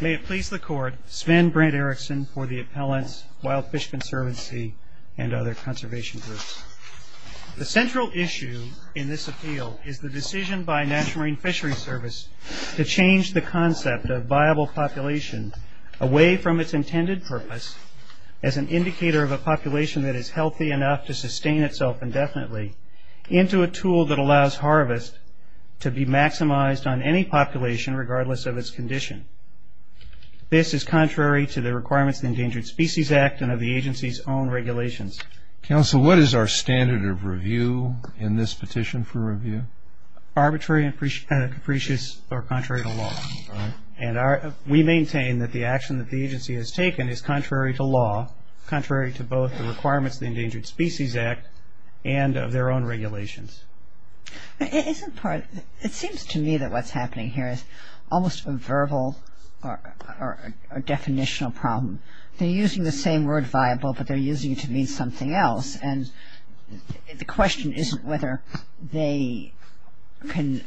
May it please the Court, Sven Brent Erickson for the Appellants, Wild Fish Conservancy and other conservation groups. The central issue in this appeal is the decision by the National Marine Fisheries Service to change the concept of viable population away from its intended purpose as an indicator of a population that is healthy enough to sustain itself indefinitely into a tool that This is contrary to the Requirements of the Endangered Species Act and of the agency's own regulations. Counsel, what is our standard of review in this petition for review? Arbitrary and capricious are contrary to law. And we maintain that the action that the agency has taken is contrary to law, contrary to both the Requirements of the Endangered Species Act and of their own regulations. It seems to me that what's happening here is almost a verbal or definitional problem. They're using the same word viable, but they're using it to mean something else. And the question isn't whether they can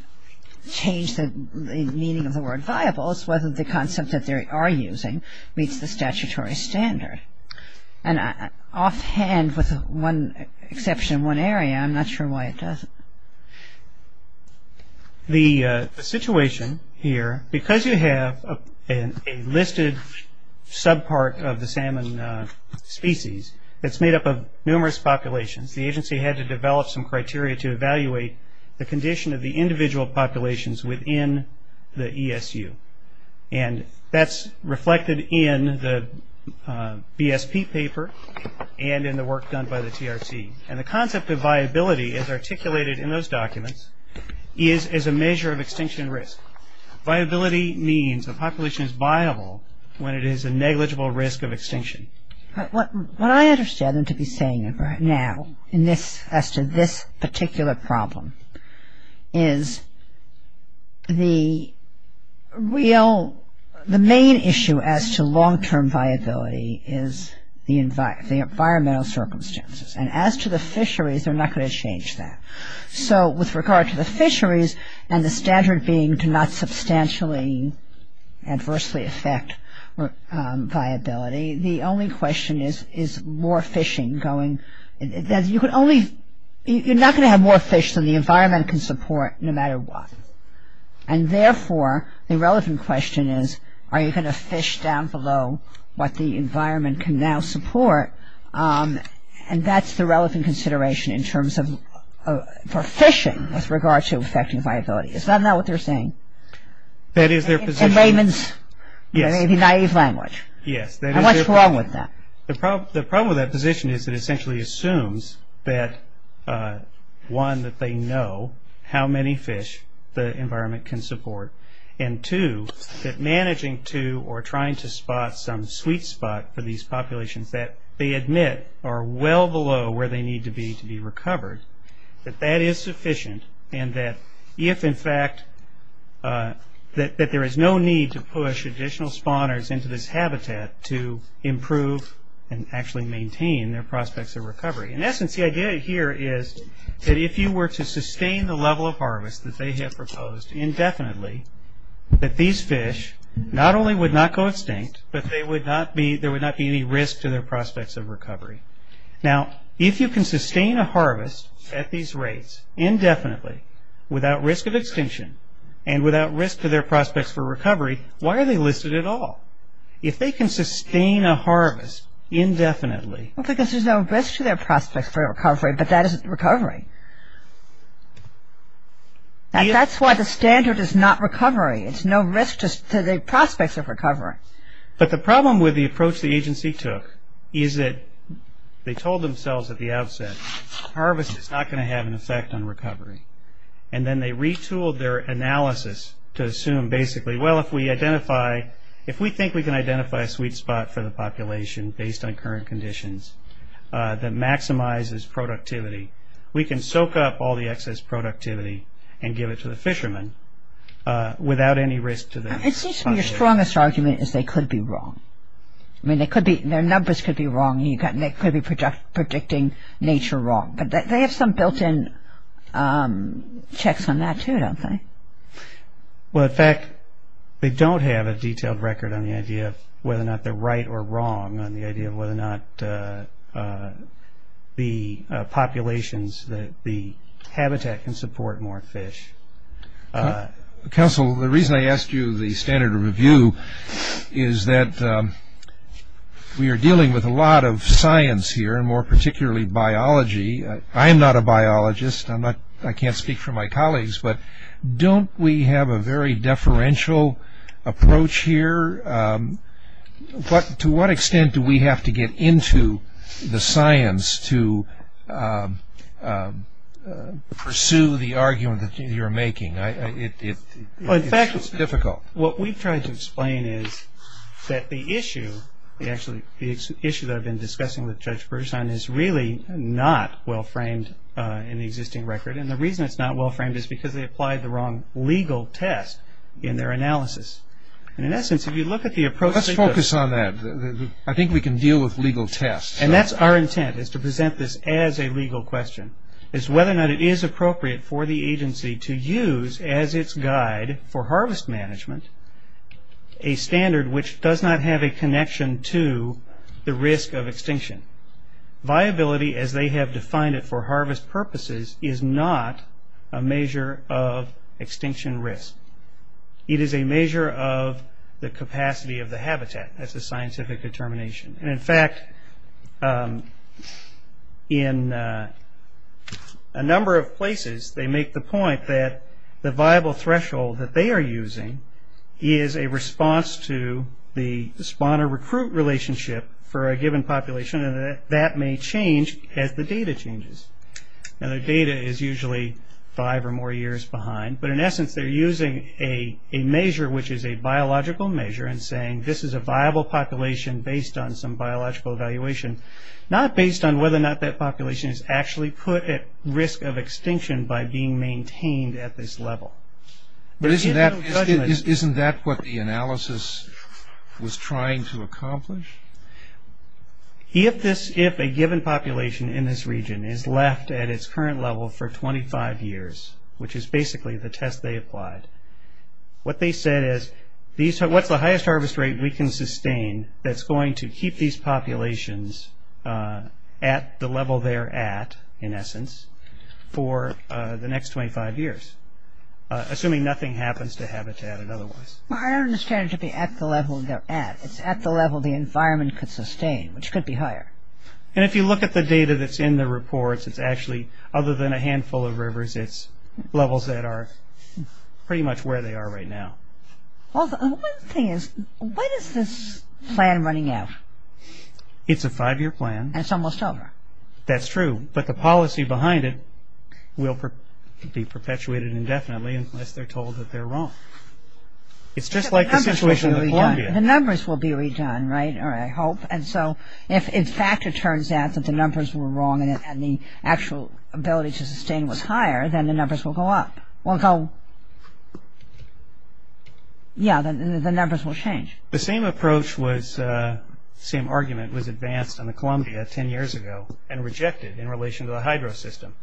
change the meaning of the word viable. It's whether the concept that they are using meets the statutory standard. And offhand, with one exception, one area, I'm not sure why it doesn't. The situation here, because you have a listed subpart of the salmon species, that's made up of numerous populations, the agency had to develop some criteria to evaluate the condition of the individual populations within the ESU. And that's reflected in the BSP paper and in the work done by the TRT. And the concept of viability is articulated in those documents as a measure of extinction risk. Viability means the population is viable when it is a negligible risk of extinction. What I understand them to be saying right now in this, as to this particular problem, is the real, the main issue as to long-term viability is the environmental circumstances. And as to the fisheries, they're not going to change that. So with regard to the fisheries and the standard being to not substantially adversely affect viability, the only question is, is more fishing going, you're not going to have more fish than the environment can support no matter what. And therefore, the relevant question is, are you going to fish down below what the environment can now support? And that's the relevant consideration in terms of, for fishing with regard to affecting viability. Is that not what they're saying? That is their position. In Raymond's maybe naive language. Yes. And what's wrong with that? The problem with that position is it essentially assumes that, one, that they know how many fish the environment can support, and two, that managing to or trying to spot some sweet spot for these populations that they admit are well below where they need to be to be recovered, that that is sufficient, and that if, in fact, that there is no need to push additional spawners into this habitat to improve and actually maintain their prospects of recovery. In essence, the idea here is that if you were to sustain the level of harvest that they have proposed indefinitely, that these fish not only would not go extinct, but there would not be any risk to their prospects of recovery. Now, if you can sustain a harvest at these rates indefinitely without risk of extinction and without risk to their prospects for recovery, why are they listed at all? If they can sustain a harvest indefinitely... Well, because there's no risk to their prospects for recovery, but that isn't recovery. That's why the standard is not recovery. It's no risk to the prospects of recovery. But the problem with the approach the agency took is that they told themselves at the outset harvest is not going to have an effect on recovery, and then they retooled their analysis to assume basically, well, if we think we can identify a sweet spot for the population based on current conditions that maximizes productivity, we can soak up all the excess productivity and give it to the fishermen without any risk to their prospects. It seems to me your strongest argument is they could be wrong. I mean, their numbers could be wrong, and they could be predicting nature wrong. But they have some built-in checks on that, too, don't they? Well, in fact, they don't have a detailed record on the idea of whether or not they're right or wrong, on the idea of whether or not the populations, the habitat can support more fish. Counsel, the reason I asked you the standard review is that we are dealing with a lot of science here, and more particularly biology. I am not a biologist. I can't speak for my colleagues. But don't we have a very deferential approach here? To what extent do we have to get into the science to pursue the argument that you're making? It's difficult. Well, in fact, what we've tried to explain is that the issue, actually the issue that I've been discussing with Judge Bergeson, is really not well-framed in the existing record. And the reason it's not well-framed is because they applied the wrong legal test in their analysis. And in essence, if you look at the approach... Let's focus on that. I think we can deal with legal tests. And that's our intent, is to present this as a legal question, is whether or not it is appropriate for the agency to use as its guide for harvest management a standard which does not have a connection to the risk of extinction. Viability, as they have defined it for harvest purposes, is not a measure of extinction risk. It is a measure of the capacity of the habitat. That's a scientific determination. And, in fact, in a number of places, they make the point that the viable threshold that they are using is a response to the spawner-recruit relationship for a given population, and that that may change as the data changes. Now, the data is usually five or more years behind. But, in essence, they're using a measure which is a biological measure and saying this is a viable population based on some biological evaluation, not based on whether or not that population is actually put at risk of extinction by being maintained at this level. But isn't that what the analysis was trying to accomplish? If a given population in this region is left at its current level for 25 years, which is basically the test they applied, what they said is what's the highest harvest rate we can sustain that's going to keep these populations at the level they're at, in essence, for the next 25 years, assuming nothing happens to habitat and otherwise? Well, I don't understand it to be at the level they're at. It's at the level the environment could sustain, which could be higher. And if you look at the data that's in the reports, it's actually other than a handful of rivers, it's levels that are pretty much where they are right now. Well, the only thing is, when is this plan running out? It's a five-year plan. And it's almost over. That's true. But the policy behind it will be perpetuated indefinitely unless they're told that they're wrong. It's just like the situation in Columbia. The numbers will be redone, right, or I hope. And so if, in fact, it turns out that the numbers were wrong and the actual ability to sustain was higher, then the numbers will go up. Yeah, the numbers will change. The same approach was, same argument was advanced on the Columbia 10 years ago and rejected in relation to the hydro system,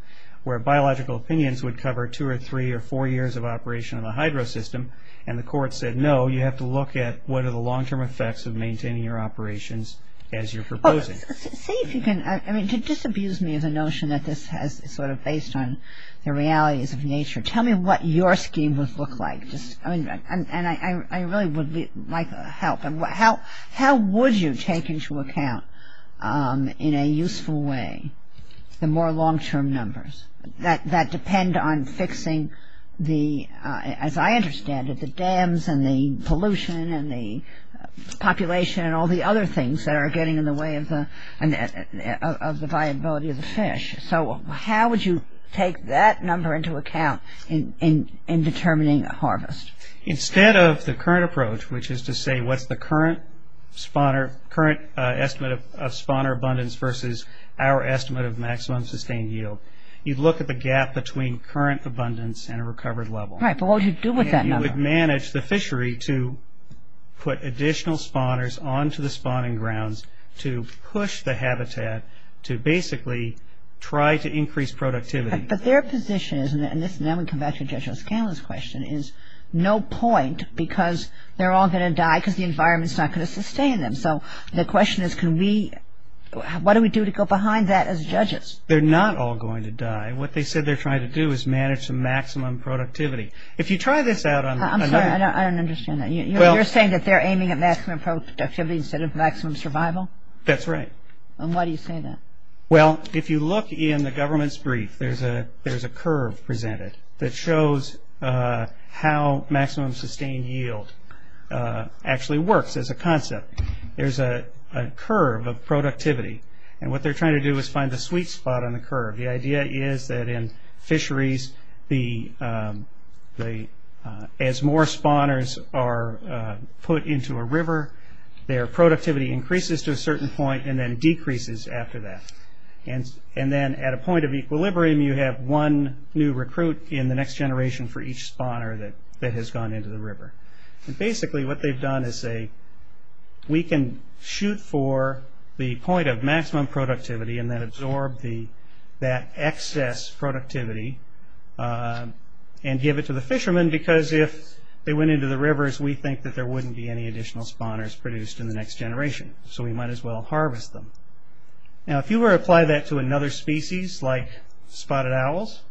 where biological opinions would cover two or three or four years of operation in the hydro system, and the court said, No, you have to look at what are the long-term effects of maintaining your operations as you're proposing. See if you can. I mean, to disabuse me of the notion that this is sort of based on the realities of nature, tell me what your scheme would look like. And I really would like help. How would you take into account in a useful way the more long-term numbers that depend on fixing the, as I understand it, the dams and the pollution and the population and all the other things that are getting in the way of the viability of the fish? So how would you take that number into account in determining harvest? Instead of the current approach, which is to say what's the current estimate of spawner abundance versus our estimate of maximum sustained yield, you'd look at the gap between current abundance and a recovered level. Right, but what would you do with that number? You would manage the fishery to put additional spawners onto the spawning grounds to push the habitat to basically try to increase productivity. But their position is, and now we come back to Judge O'Scanlon's question, is no point because they're all going to die because the environment's not going to sustain them. So the question is, what do we do to go behind that as judges? They're not all going to die. What they said they're trying to do is manage the maximum productivity. If you try this out on another- I'm sorry, I don't understand that. You're saying that they're aiming at maximum productivity instead of maximum survival? That's right. And why do you say that? Well, if you look in the government's brief, there's a curve presented that shows how maximum sustained yield actually works as a concept. There's a curve of productivity, and what they're trying to do is find the sweet spot on the curve. The idea is that in fisheries, as more spawners are put into a river, their productivity increases to a certain point and then decreases after that. And then at a point of equilibrium, you have one new recruit in the next generation for each spawner that has gone into the river. Basically, what they've done is say, we can shoot for the point of maximum productivity and then absorb that excess productivity and give it to the fishermen because if they went into the rivers, we think that there wouldn't be any additional spawners produced in the next generation, so we might as well harvest them. Now, if you were to apply that to another species like spotted owls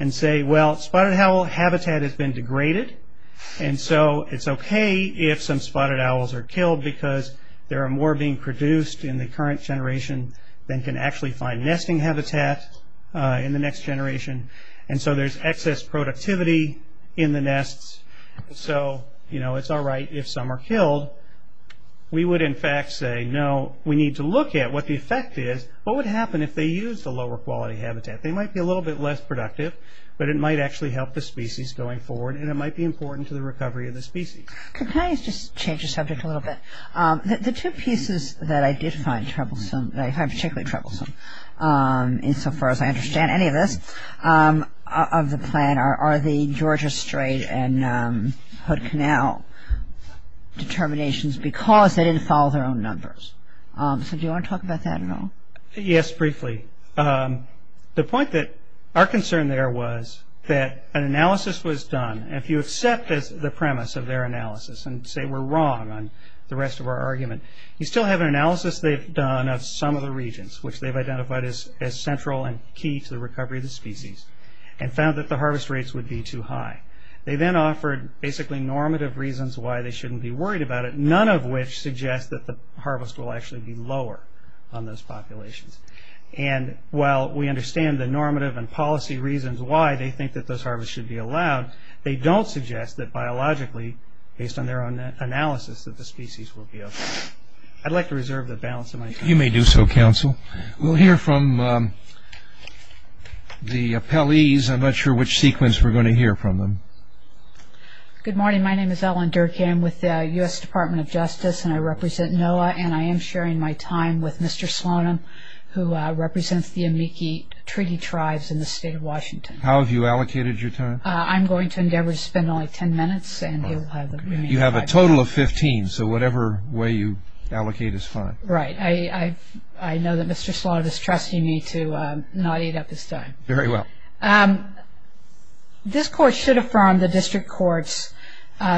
and say, well, spotted owl habitat has been degraded, and so it's okay if some spotted owls are killed because there are more being produced in the current generation than can actually find nesting habitat in the next generation, and so there's excess productivity in the nests, so it's all right if some are killed. We would in fact say, no, we need to look at what the effect is. What would happen if they used a lower quality habitat? They might be a little bit less productive, but it might actually help the species going forward, and it might be important to the recovery of the species. Can I just change the subject a little bit? The two pieces that I did find troublesome, that I find particularly troublesome, insofar as I understand any of this, of the plan, are the Georgia Strait and Hood Canal determinations because they didn't follow their own numbers. So do you want to talk about that at all? Yes, briefly. The point that our concern there was that an analysis was done, and if you accept the premise of their analysis and say we're wrong on the rest of our argument, you still have an analysis they've done of some of the regions, which they've identified as central and key to the recovery of the species, and found that the harvest rates would be too high. They then offered basically normative reasons why they shouldn't be worried about it, none of which suggest that the harvest will actually be lower on those populations, and while we understand the normative and policy reasons why they think that those harvests should be allowed, they don't suggest that biologically, based on their own analysis, that the species will be okay. I'd like to reserve the balance of my time. You may do so, counsel. We'll hear from the appellees. I'm not sure which sequence we're going to hear from them. Good morning. My name is Ellen Durkee. I'm with the U.S. Department of Justice, and I represent NOAA, and I am sharing my time with Mr. Slonim, who represents the Amici Treaty Tribes in the state of Washington. How have you allocated your time? I'm going to endeavor to spend only ten minutes, and he'll have the remaining five minutes. You have a total of 15, so whatever way you allocate is fine. Right. I know that Mr. Slonim is trusting me to not eat up his time. Very well. This court should affirm the district court's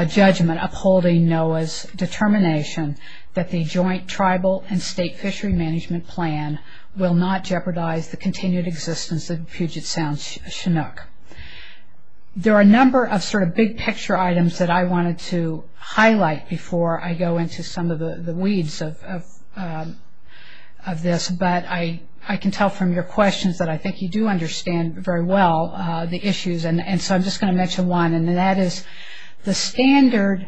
judgment upholding NOAA's determination that the joint tribal and state fishery management plan will not jeopardize the continued existence of Puget Sound Chinook. There are a number of sort of big picture items that I wanted to highlight before I go into some of the weeds of this, but I can tell from your questions that I think you do understand very well the issues, and so I'm just going to mention one, and that is the standard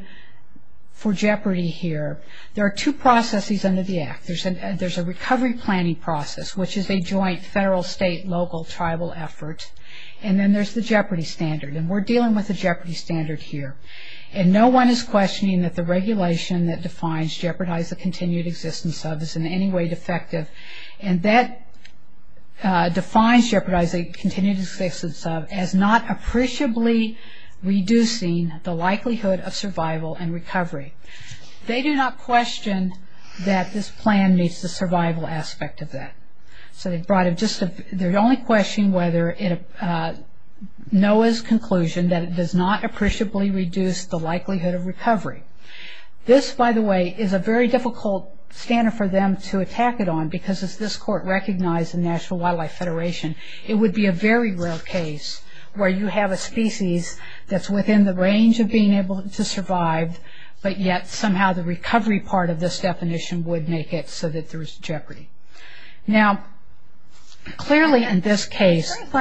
for jeopardy here. There are two processes under the act. There's a recovery planning process, which is a joint federal, state, local, tribal effort, and then there's the jeopardy standard, and we're dealing with the jeopardy standard here, and no one is questioning that the regulation that defines jeopardize the continued existence of is in any way defective, and that defines jeopardize the continued existence of as not appreciably reducing the likelihood of survival and recovery. They do not question that this plan meets the survival aspect of that, so they only question NOAA's conclusion that it does not appreciably reduce the likelihood of recovery. This, by the way, is a very difficult standard for them to attack it on because as this court recognized in National Wildlife Federation, it would be a very rare case where you have a species that's within the range of being able to survive, but yet somehow the recovery part of this definition would make it so that there's jeopardy. Now, clearly in this case... in the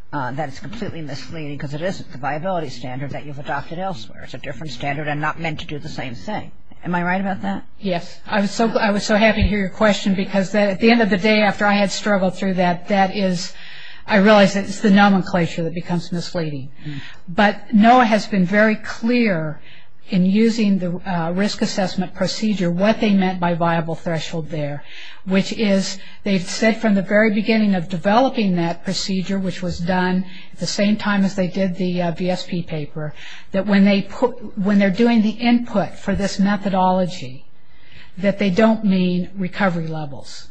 plan that it's completely misleading because it isn't the viability standard that you've adopted elsewhere. It's a different standard and not meant to do the same thing. Am I right about that? Yes. I was so happy to hear your question because at the end of the day, after I had struggled through that, that is... I realize it's the nomenclature that becomes misleading, but NOAA has been very clear in using the risk assessment procedure what they meant by viable threshold there, which is they've said from the very beginning of developing that procedure, which was done at the same time as they did the VSP paper, that when they put... when they're doing the input for this methodology, that they don't mean recovery levels.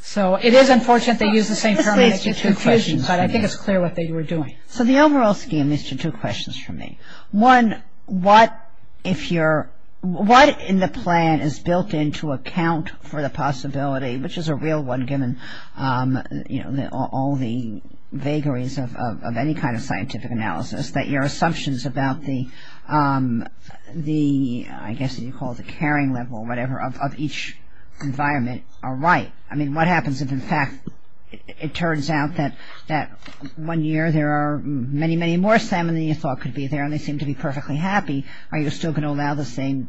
So it is unfortunate they use the same terminology for two questions, but I think it's clear what they were doing. So the overall scheme leads to two questions for me. One, what if you're... what in the plan is built in to account for the possibility, which is a real one given all the vagaries of any kind of scientific analysis, that your assumptions about the, I guess you call it the carrying level, whatever, of each environment are right? I mean, what happens if in fact it turns out that one year there are many, many more salmon than you thought could be there and they seem to be perfectly happy, are you still going to allow the same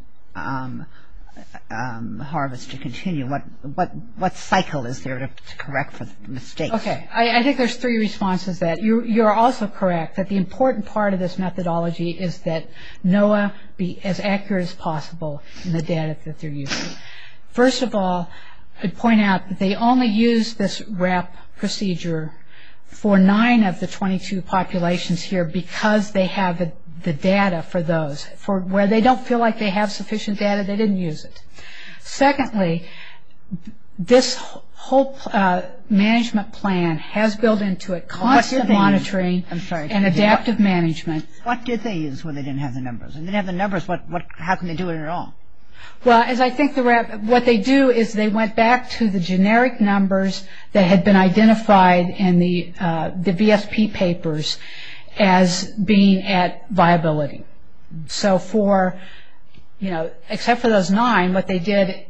harvest to continue? What cycle is there to correct for mistakes? Okay. I think there's three responses to that. You're also correct that the important part of this methodology is that NOAA be as accurate as possible in the data that they're using. First of all, I'd point out that they only use this RAP procedure for nine of the 22 populations here because they have the data for those. Where they don't feel like they have sufficient data, they didn't use it. Secondly, this whole management plan has built in to it constant monitoring and adaptive management. What did they use when they didn't have the numbers? When they didn't have the numbers, how can they do it at all? Well, as I think the RAP, what they do is they went back to the generic numbers that had been identified in the VSP papers as being at viability. So for, you know, except for those nine, what they did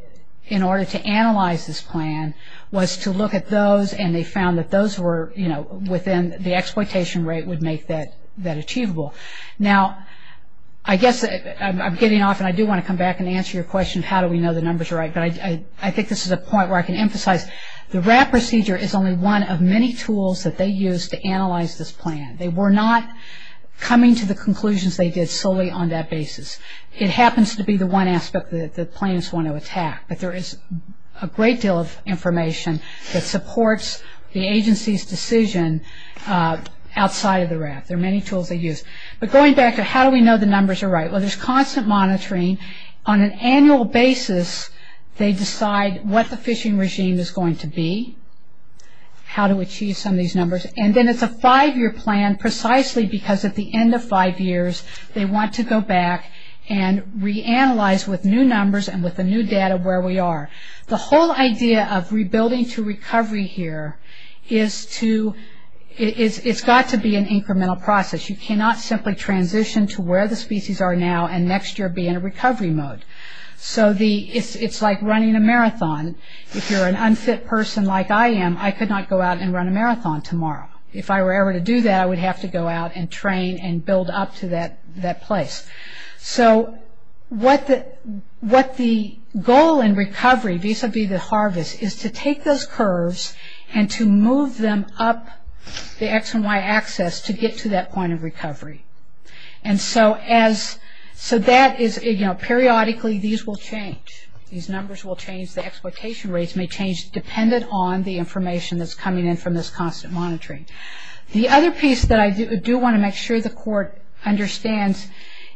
in order to analyze this plan was to look at those and they found that those were, you know, within the exploitation rate would make that achievable. Now, I guess I'm getting off and I do want to come back and answer your question, how do we know the numbers are right? But I think this is a point where I can emphasize the RAP procedure is only one of many tools that they used to analyze this plan. They were not coming to the conclusions they did solely on that basis. It happens to be the one aspect that the plans want to attack, but there is a great deal of information that supports the agency's decision outside of the RAP. There are many tools they use. But going back to how do we know the numbers are right? Well, there's constant monitoring. On an annual basis they decide what the fishing regime is going to be, how to achieve some of these numbers, and then it's a five-year plan precisely because at the end of five years they want to go back and reanalyze with new numbers and with the new data where we are. The whole idea of rebuilding to recovery here is to, it's got to be an incremental process. You cannot simply transition to where the species are now and next year be in a recovery mode. So it's like running a marathon. If you're an unfit person like I am, I could not go out and run a marathon tomorrow. If I were ever to do that, I would have to go out and train and build up to that place. So what the goal in recovery vis-a-vis the harvest is to take those curves and to move them up the X and Y axis to get to that point of recovery. And so that is, you know, periodically these will change. These numbers will change. The exploitation rates may change dependent on the information that's coming in from this constant monitoring. The other piece that I do want to make sure the court understands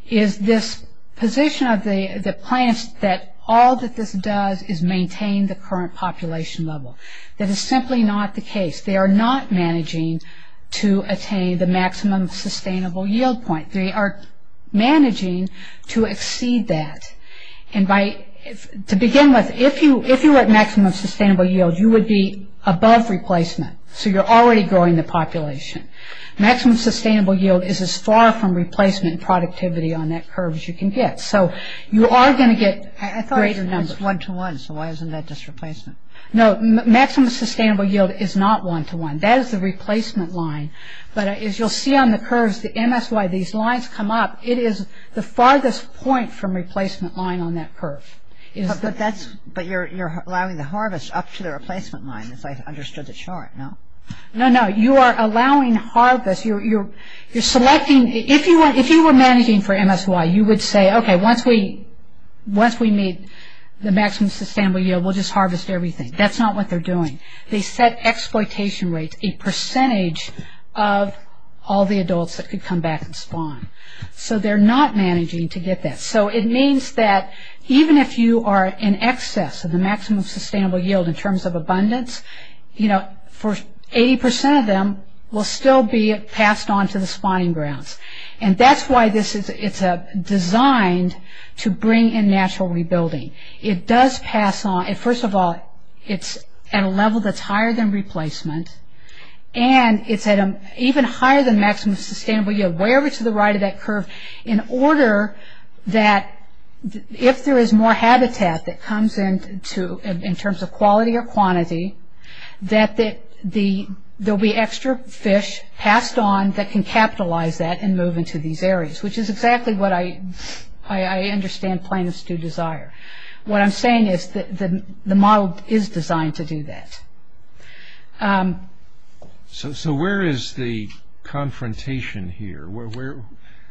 is this position of the plants that all that this does is maintain the current population level. That is simply not the case. They are not managing to attain the maximum sustainable yield point. They are managing to exceed that. And to begin with, if you were at maximum sustainable yield, you would be above replacement. So you're already growing the population. Maximum sustainable yield is as far from replacement and productivity on that curve as you can get. So you are going to get greater numbers. I thought it was one to one, so why isn't that just replacement? No, maximum sustainable yield is not one to one. That is the replacement line. But as you'll see on the curves, the MSY, these lines come up. It is the farthest point from replacement line on that curve. But you're allowing the harvest up to the replacement line, as I understood the chart, no? No, no, you are allowing harvest. You're selecting. If you were managing for MSY, you would say, okay, once we meet the maximum sustainable yield, we'll just harvest everything. That's not what they're doing. They set exploitation rates, a percentage of all the adults that could come back and spawn. So they're not managing to get that. So it means that even if you are in excess of the maximum sustainable yield in terms of abundance, 80% of them will still be passed on to the spawning grounds. And that's why it's designed to bring in natural rebuilding. It does pass on. First of all, it's at a level that's higher than replacement, and it's even higher than maximum sustainable yield, way over to the right of that curve, in order that if there is more habitat that comes in in terms of quality or quantity, that there will be extra fish passed on that can capitalize that and move into these areas, which is exactly what I understand plaintiffs do desire. What I'm saying is that the model is designed to do that. So where is the confrontation here?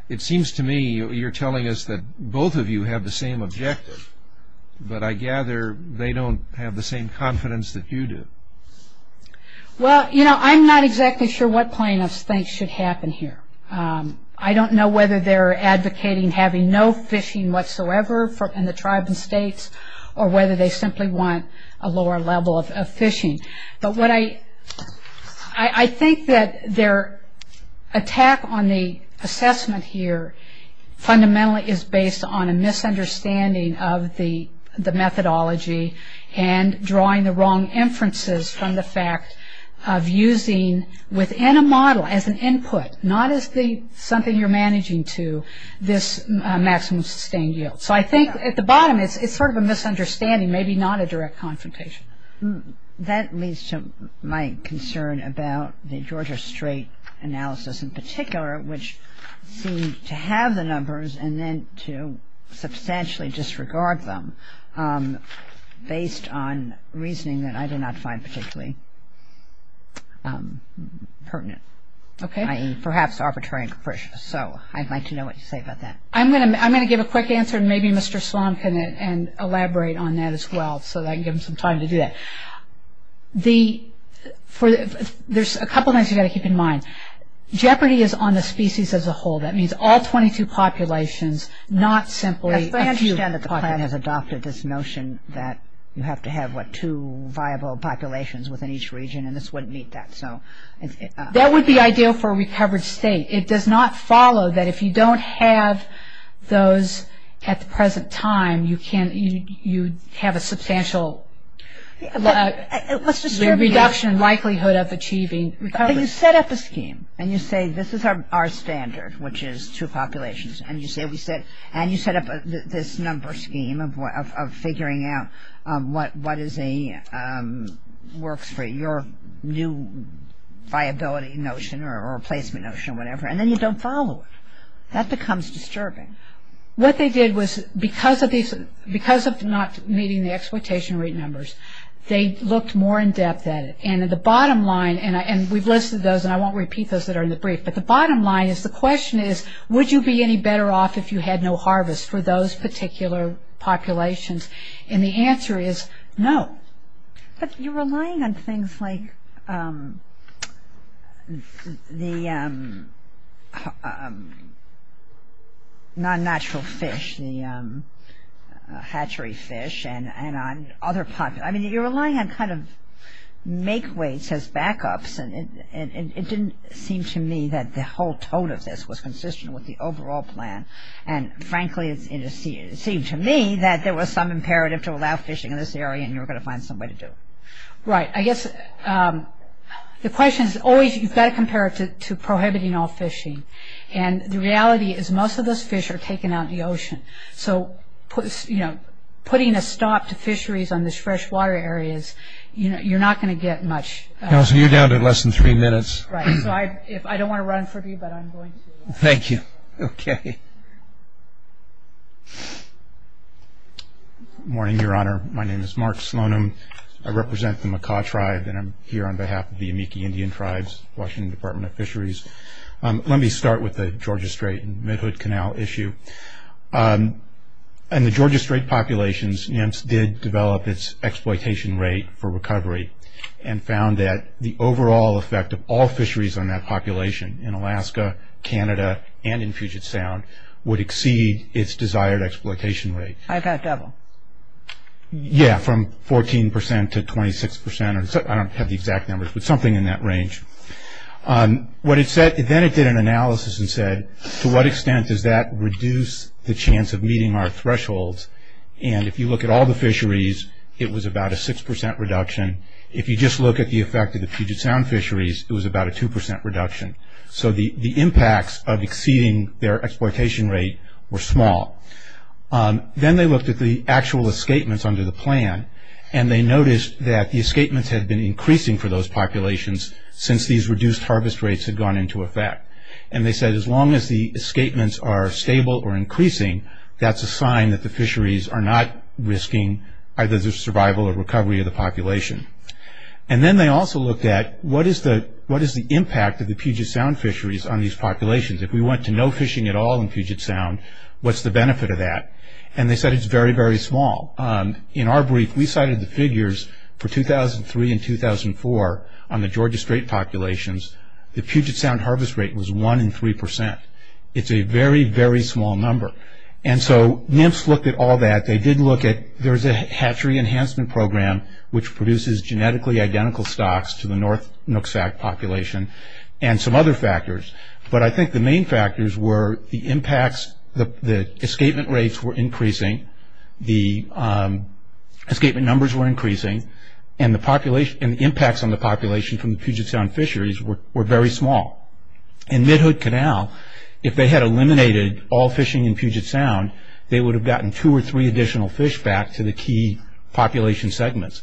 It seems to me you're telling us that both of you have the same objective, but I gather they don't have the same confidence that you do. Well, you know, I'm not exactly sure what plaintiffs think should happen here. I don't know whether they're advocating having no fishing whatsoever in the tribe and states or whether they simply want a lower level of fishing. But I think that their attack on the assessment here fundamentally is based on a misunderstanding of the methodology and drawing the wrong inferences from the fact of using, within a model, as an input, not as something you're managing to this maximum sustained yield. So I think at the bottom it's sort of a misunderstanding, maybe not a direct confrontation. That leads to my concern about the Georgia Strait analysis in particular, which seemed to have the numbers and then to substantially disregard them based on reasoning that I did not find particularly pertinent, i.e., perhaps arbitrary and capricious. So I'd like to know what you say about that. I'm going to give a quick answer and maybe Mr. Slom can elaborate on that as well so that I can give him some time to do that. There's a couple of things you've got to keep in mind. Jeopardy is on the species as a whole. That means all 22 populations, not simply a few. I understand that the plan has adopted this notion that you have to have, what, two viable populations within each region and this wouldn't meet that. That would be ideal for a recovered state. It does not follow that if you don't have those at the present time, you have a substantial reduction in likelihood of achieving recovery. You set up a scheme and you say this is our standard, which is two populations, and you set up this number scheme of figuring out what works for your new viability notion or replacement notion or whatever, and then you don't follow it. That becomes disturbing. What they did was because of not meeting the exploitation rate numbers, they looked more in depth at it. And at the bottom line, and we've listed those and I won't repeat those that are in the brief, but the bottom line is the question is would you be any better off if you had no harvest for those particular populations? And the answer is no. But you're relying on things like the non-natural fish, the hatchery fish, and on other populations. I mean, you're relying on kind of make weights as backups, and it didn't seem to me that the whole tone of this was consistent with the overall plan. And frankly, it seemed to me that there was some imperative to allow fishing in this area and you were going to find some way to do it. Right. I guess the question is always you've got to compare it to prohibiting all fishing. And the reality is most of those fish are taken out in the ocean. So putting a stop to fisheries on the freshwater areas, you're not going to get much. Counselor, you're down to less than three minutes. Right. So I don't want to run from you, but I'm going to. Thank you. Okay. Good morning, Your Honor. My name is Mark Slonim. I represent the Makah Tribe and I'm here on behalf of the Amici Indian Tribes, Washington Department of Fisheries. Let me start with the Georgia Strait and Midhood Canal issue. In the Georgia Strait populations, NIMS did develop its exploitation rate for recovery and found that the overall effect of all fisheries on that population in Alaska, Canada, and in Puget Sound would exceed its desired exploitation rate. I've got double. Yeah, from 14% to 26%. I don't have the exact numbers, but something in that range. Then it did an analysis and said, to what extent does that reduce the chance of meeting our thresholds? And if you look at all the fisheries, it was about a 6% reduction. If you just look at the effect of the Puget Sound fisheries, it was about a 2% reduction. So the impacts of exceeding their exploitation rate were small. Then they looked at the actual escapements under the plan and they noticed that the escapements had been increasing for those populations since these reduced harvest rates had gone into effect. They said as long as the escapements are stable or increasing, that's a sign that the fisheries are not risking either the survival or recovery of the population. Then they also looked at what is the impact of the Puget Sound fisheries on these populations. If we went to no fishing at all in Puget Sound, what's the benefit of that? They said it's very, very small. In our brief, we cited the figures for 2003 and 2004 on the Georgia Strait populations. The Puget Sound harvest rate was 1 in 3%. It's a very, very small number. And so NIMS looked at all that. They did look at, there's a hatchery enhancement program which produces genetically identical stocks to the North Nooksack population and some other factors. But I think the main factors were the impacts, the escapement rates were increasing, the escapement numbers were increasing, and the impacts on the population from the Puget Sound fisheries were very small. In Midhood Canal, if they had eliminated all fishing in Puget Sound, they would have gotten two or three additional fish back to the key population segments.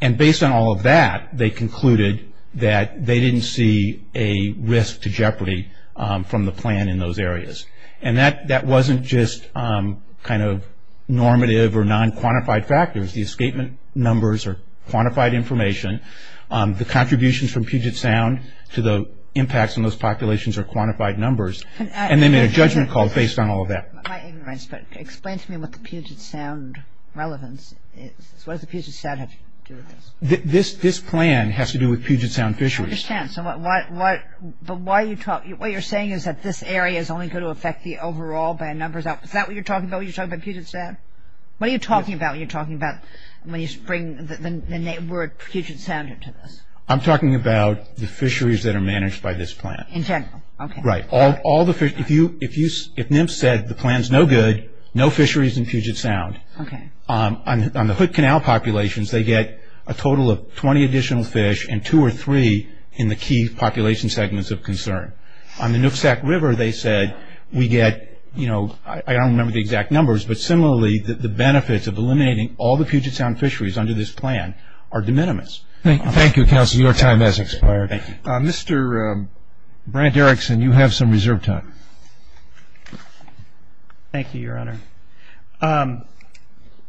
And based on all of that, they concluded that they didn't see a risk to jeopardy from the plan in those areas. And that wasn't just kind of normative or non-quantified factors. The escapement numbers are quantified information. The contributions from Puget Sound to the impacts on those populations are quantified numbers. And they made a judgment call based on all of that. My ignorance, but explain to me what the Puget Sound relevance is. What does the Puget Sound have to do with this? This plan has to do with Puget Sound fisheries. I understand. But what you're saying is that this area is only going to affect the overall numbers. Is that what you're talking about when you're talking about Puget Sound? What are you talking about when you're bringing the word Puget Sound into this? I'm talking about the fisheries that are managed by this plan. In general? Right. If NIMS said the plan's no good, no fisheries in Puget Sound, on the Hood Canal populations they get a total of 20 additional fish and two or three in the key population segments of concern. On the Nooksack River they said we get, you know, I don't remember the exact numbers, but similarly the benefits of eliminating all the Puget Sound fisheries under this plan are de minimis. Thank you, counsel. Your time has expired. Thank you. Mr. Brant Erickson, you have some reserve time. Thank you, Your Honor.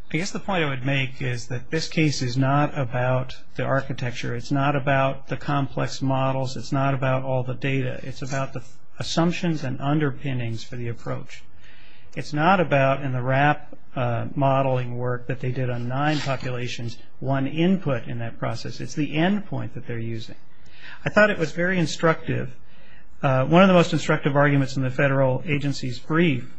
I guess the point I would make is that this case is not about the architecture. It's not about the complex models. It's not about all the data. It's about the assumptions and underpinnings for the approach. It's not about in the RAP modeling work that they did on nine populations, one input in that process. It's the end point that they're using. I thought it was very instructive. One of the most instructive arguments in the federal agency's brief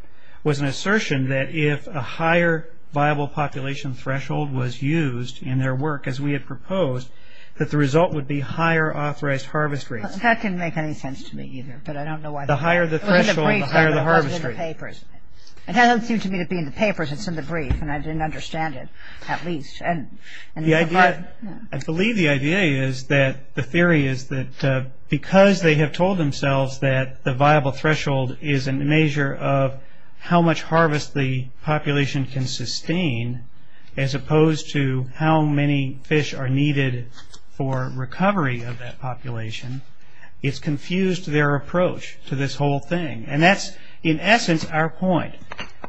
was an assertion that if a higher viable population threshold was used in their work as we had proposed, that the result would be higher authorized harvest rates. That didn't make any sense to me either, but I don't know why. The higher the threshold, the higher the harvest rate. It doesn't seem to me to be in the papers. It's in the brief, and I didn't understand it at least. I believe the idea is that the theory is that because they have told themselves that the viable threshold is a measure of how much harvest the population can sustain as opposed to how many fish are needed for recovery of that population, it's confused their approach to this whole thing. And that's, in essence, our point.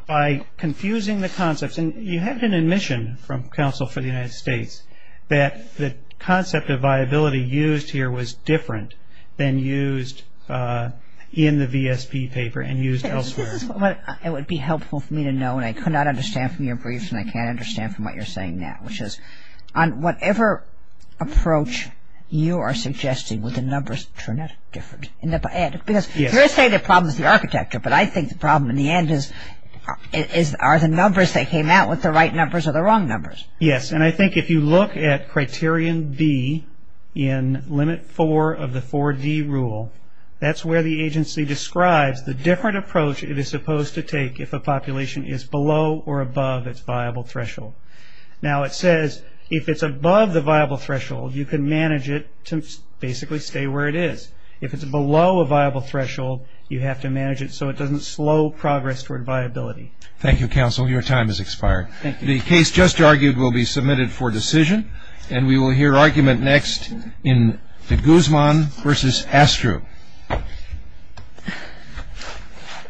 By confusing the concepts, and you have an admission from counsel for the United States that the concept of viability used here was different than used in the VSP paper and used elsewhere. It would be helpful for me to know, and I could not understand from your brief, and I can't understand from what you're saying now, which is on whatever approach you are suggesting, would the numbers turn out different? Because you're saying the problem is the architecture, but I think the problem in the end are the numbers that came out with the right numbers or the wrong numbers. Yes, and I think if you look at Criterion B in Limit 4 of the 4D rule, that's where the agency describes the different approach it is supposed to take if a population is below or above its viable threshold. Now, it says if it's above the viable threshold, you can manage it to basically stay where it is. If it's below a viable threshold, you have to manage it so it doesn't slow progress toward viability. Thank you, counsel. Your time has expired. Thank you. The case just argued will be submitted for decision, and we will hear argument next in Guzman v. Astru.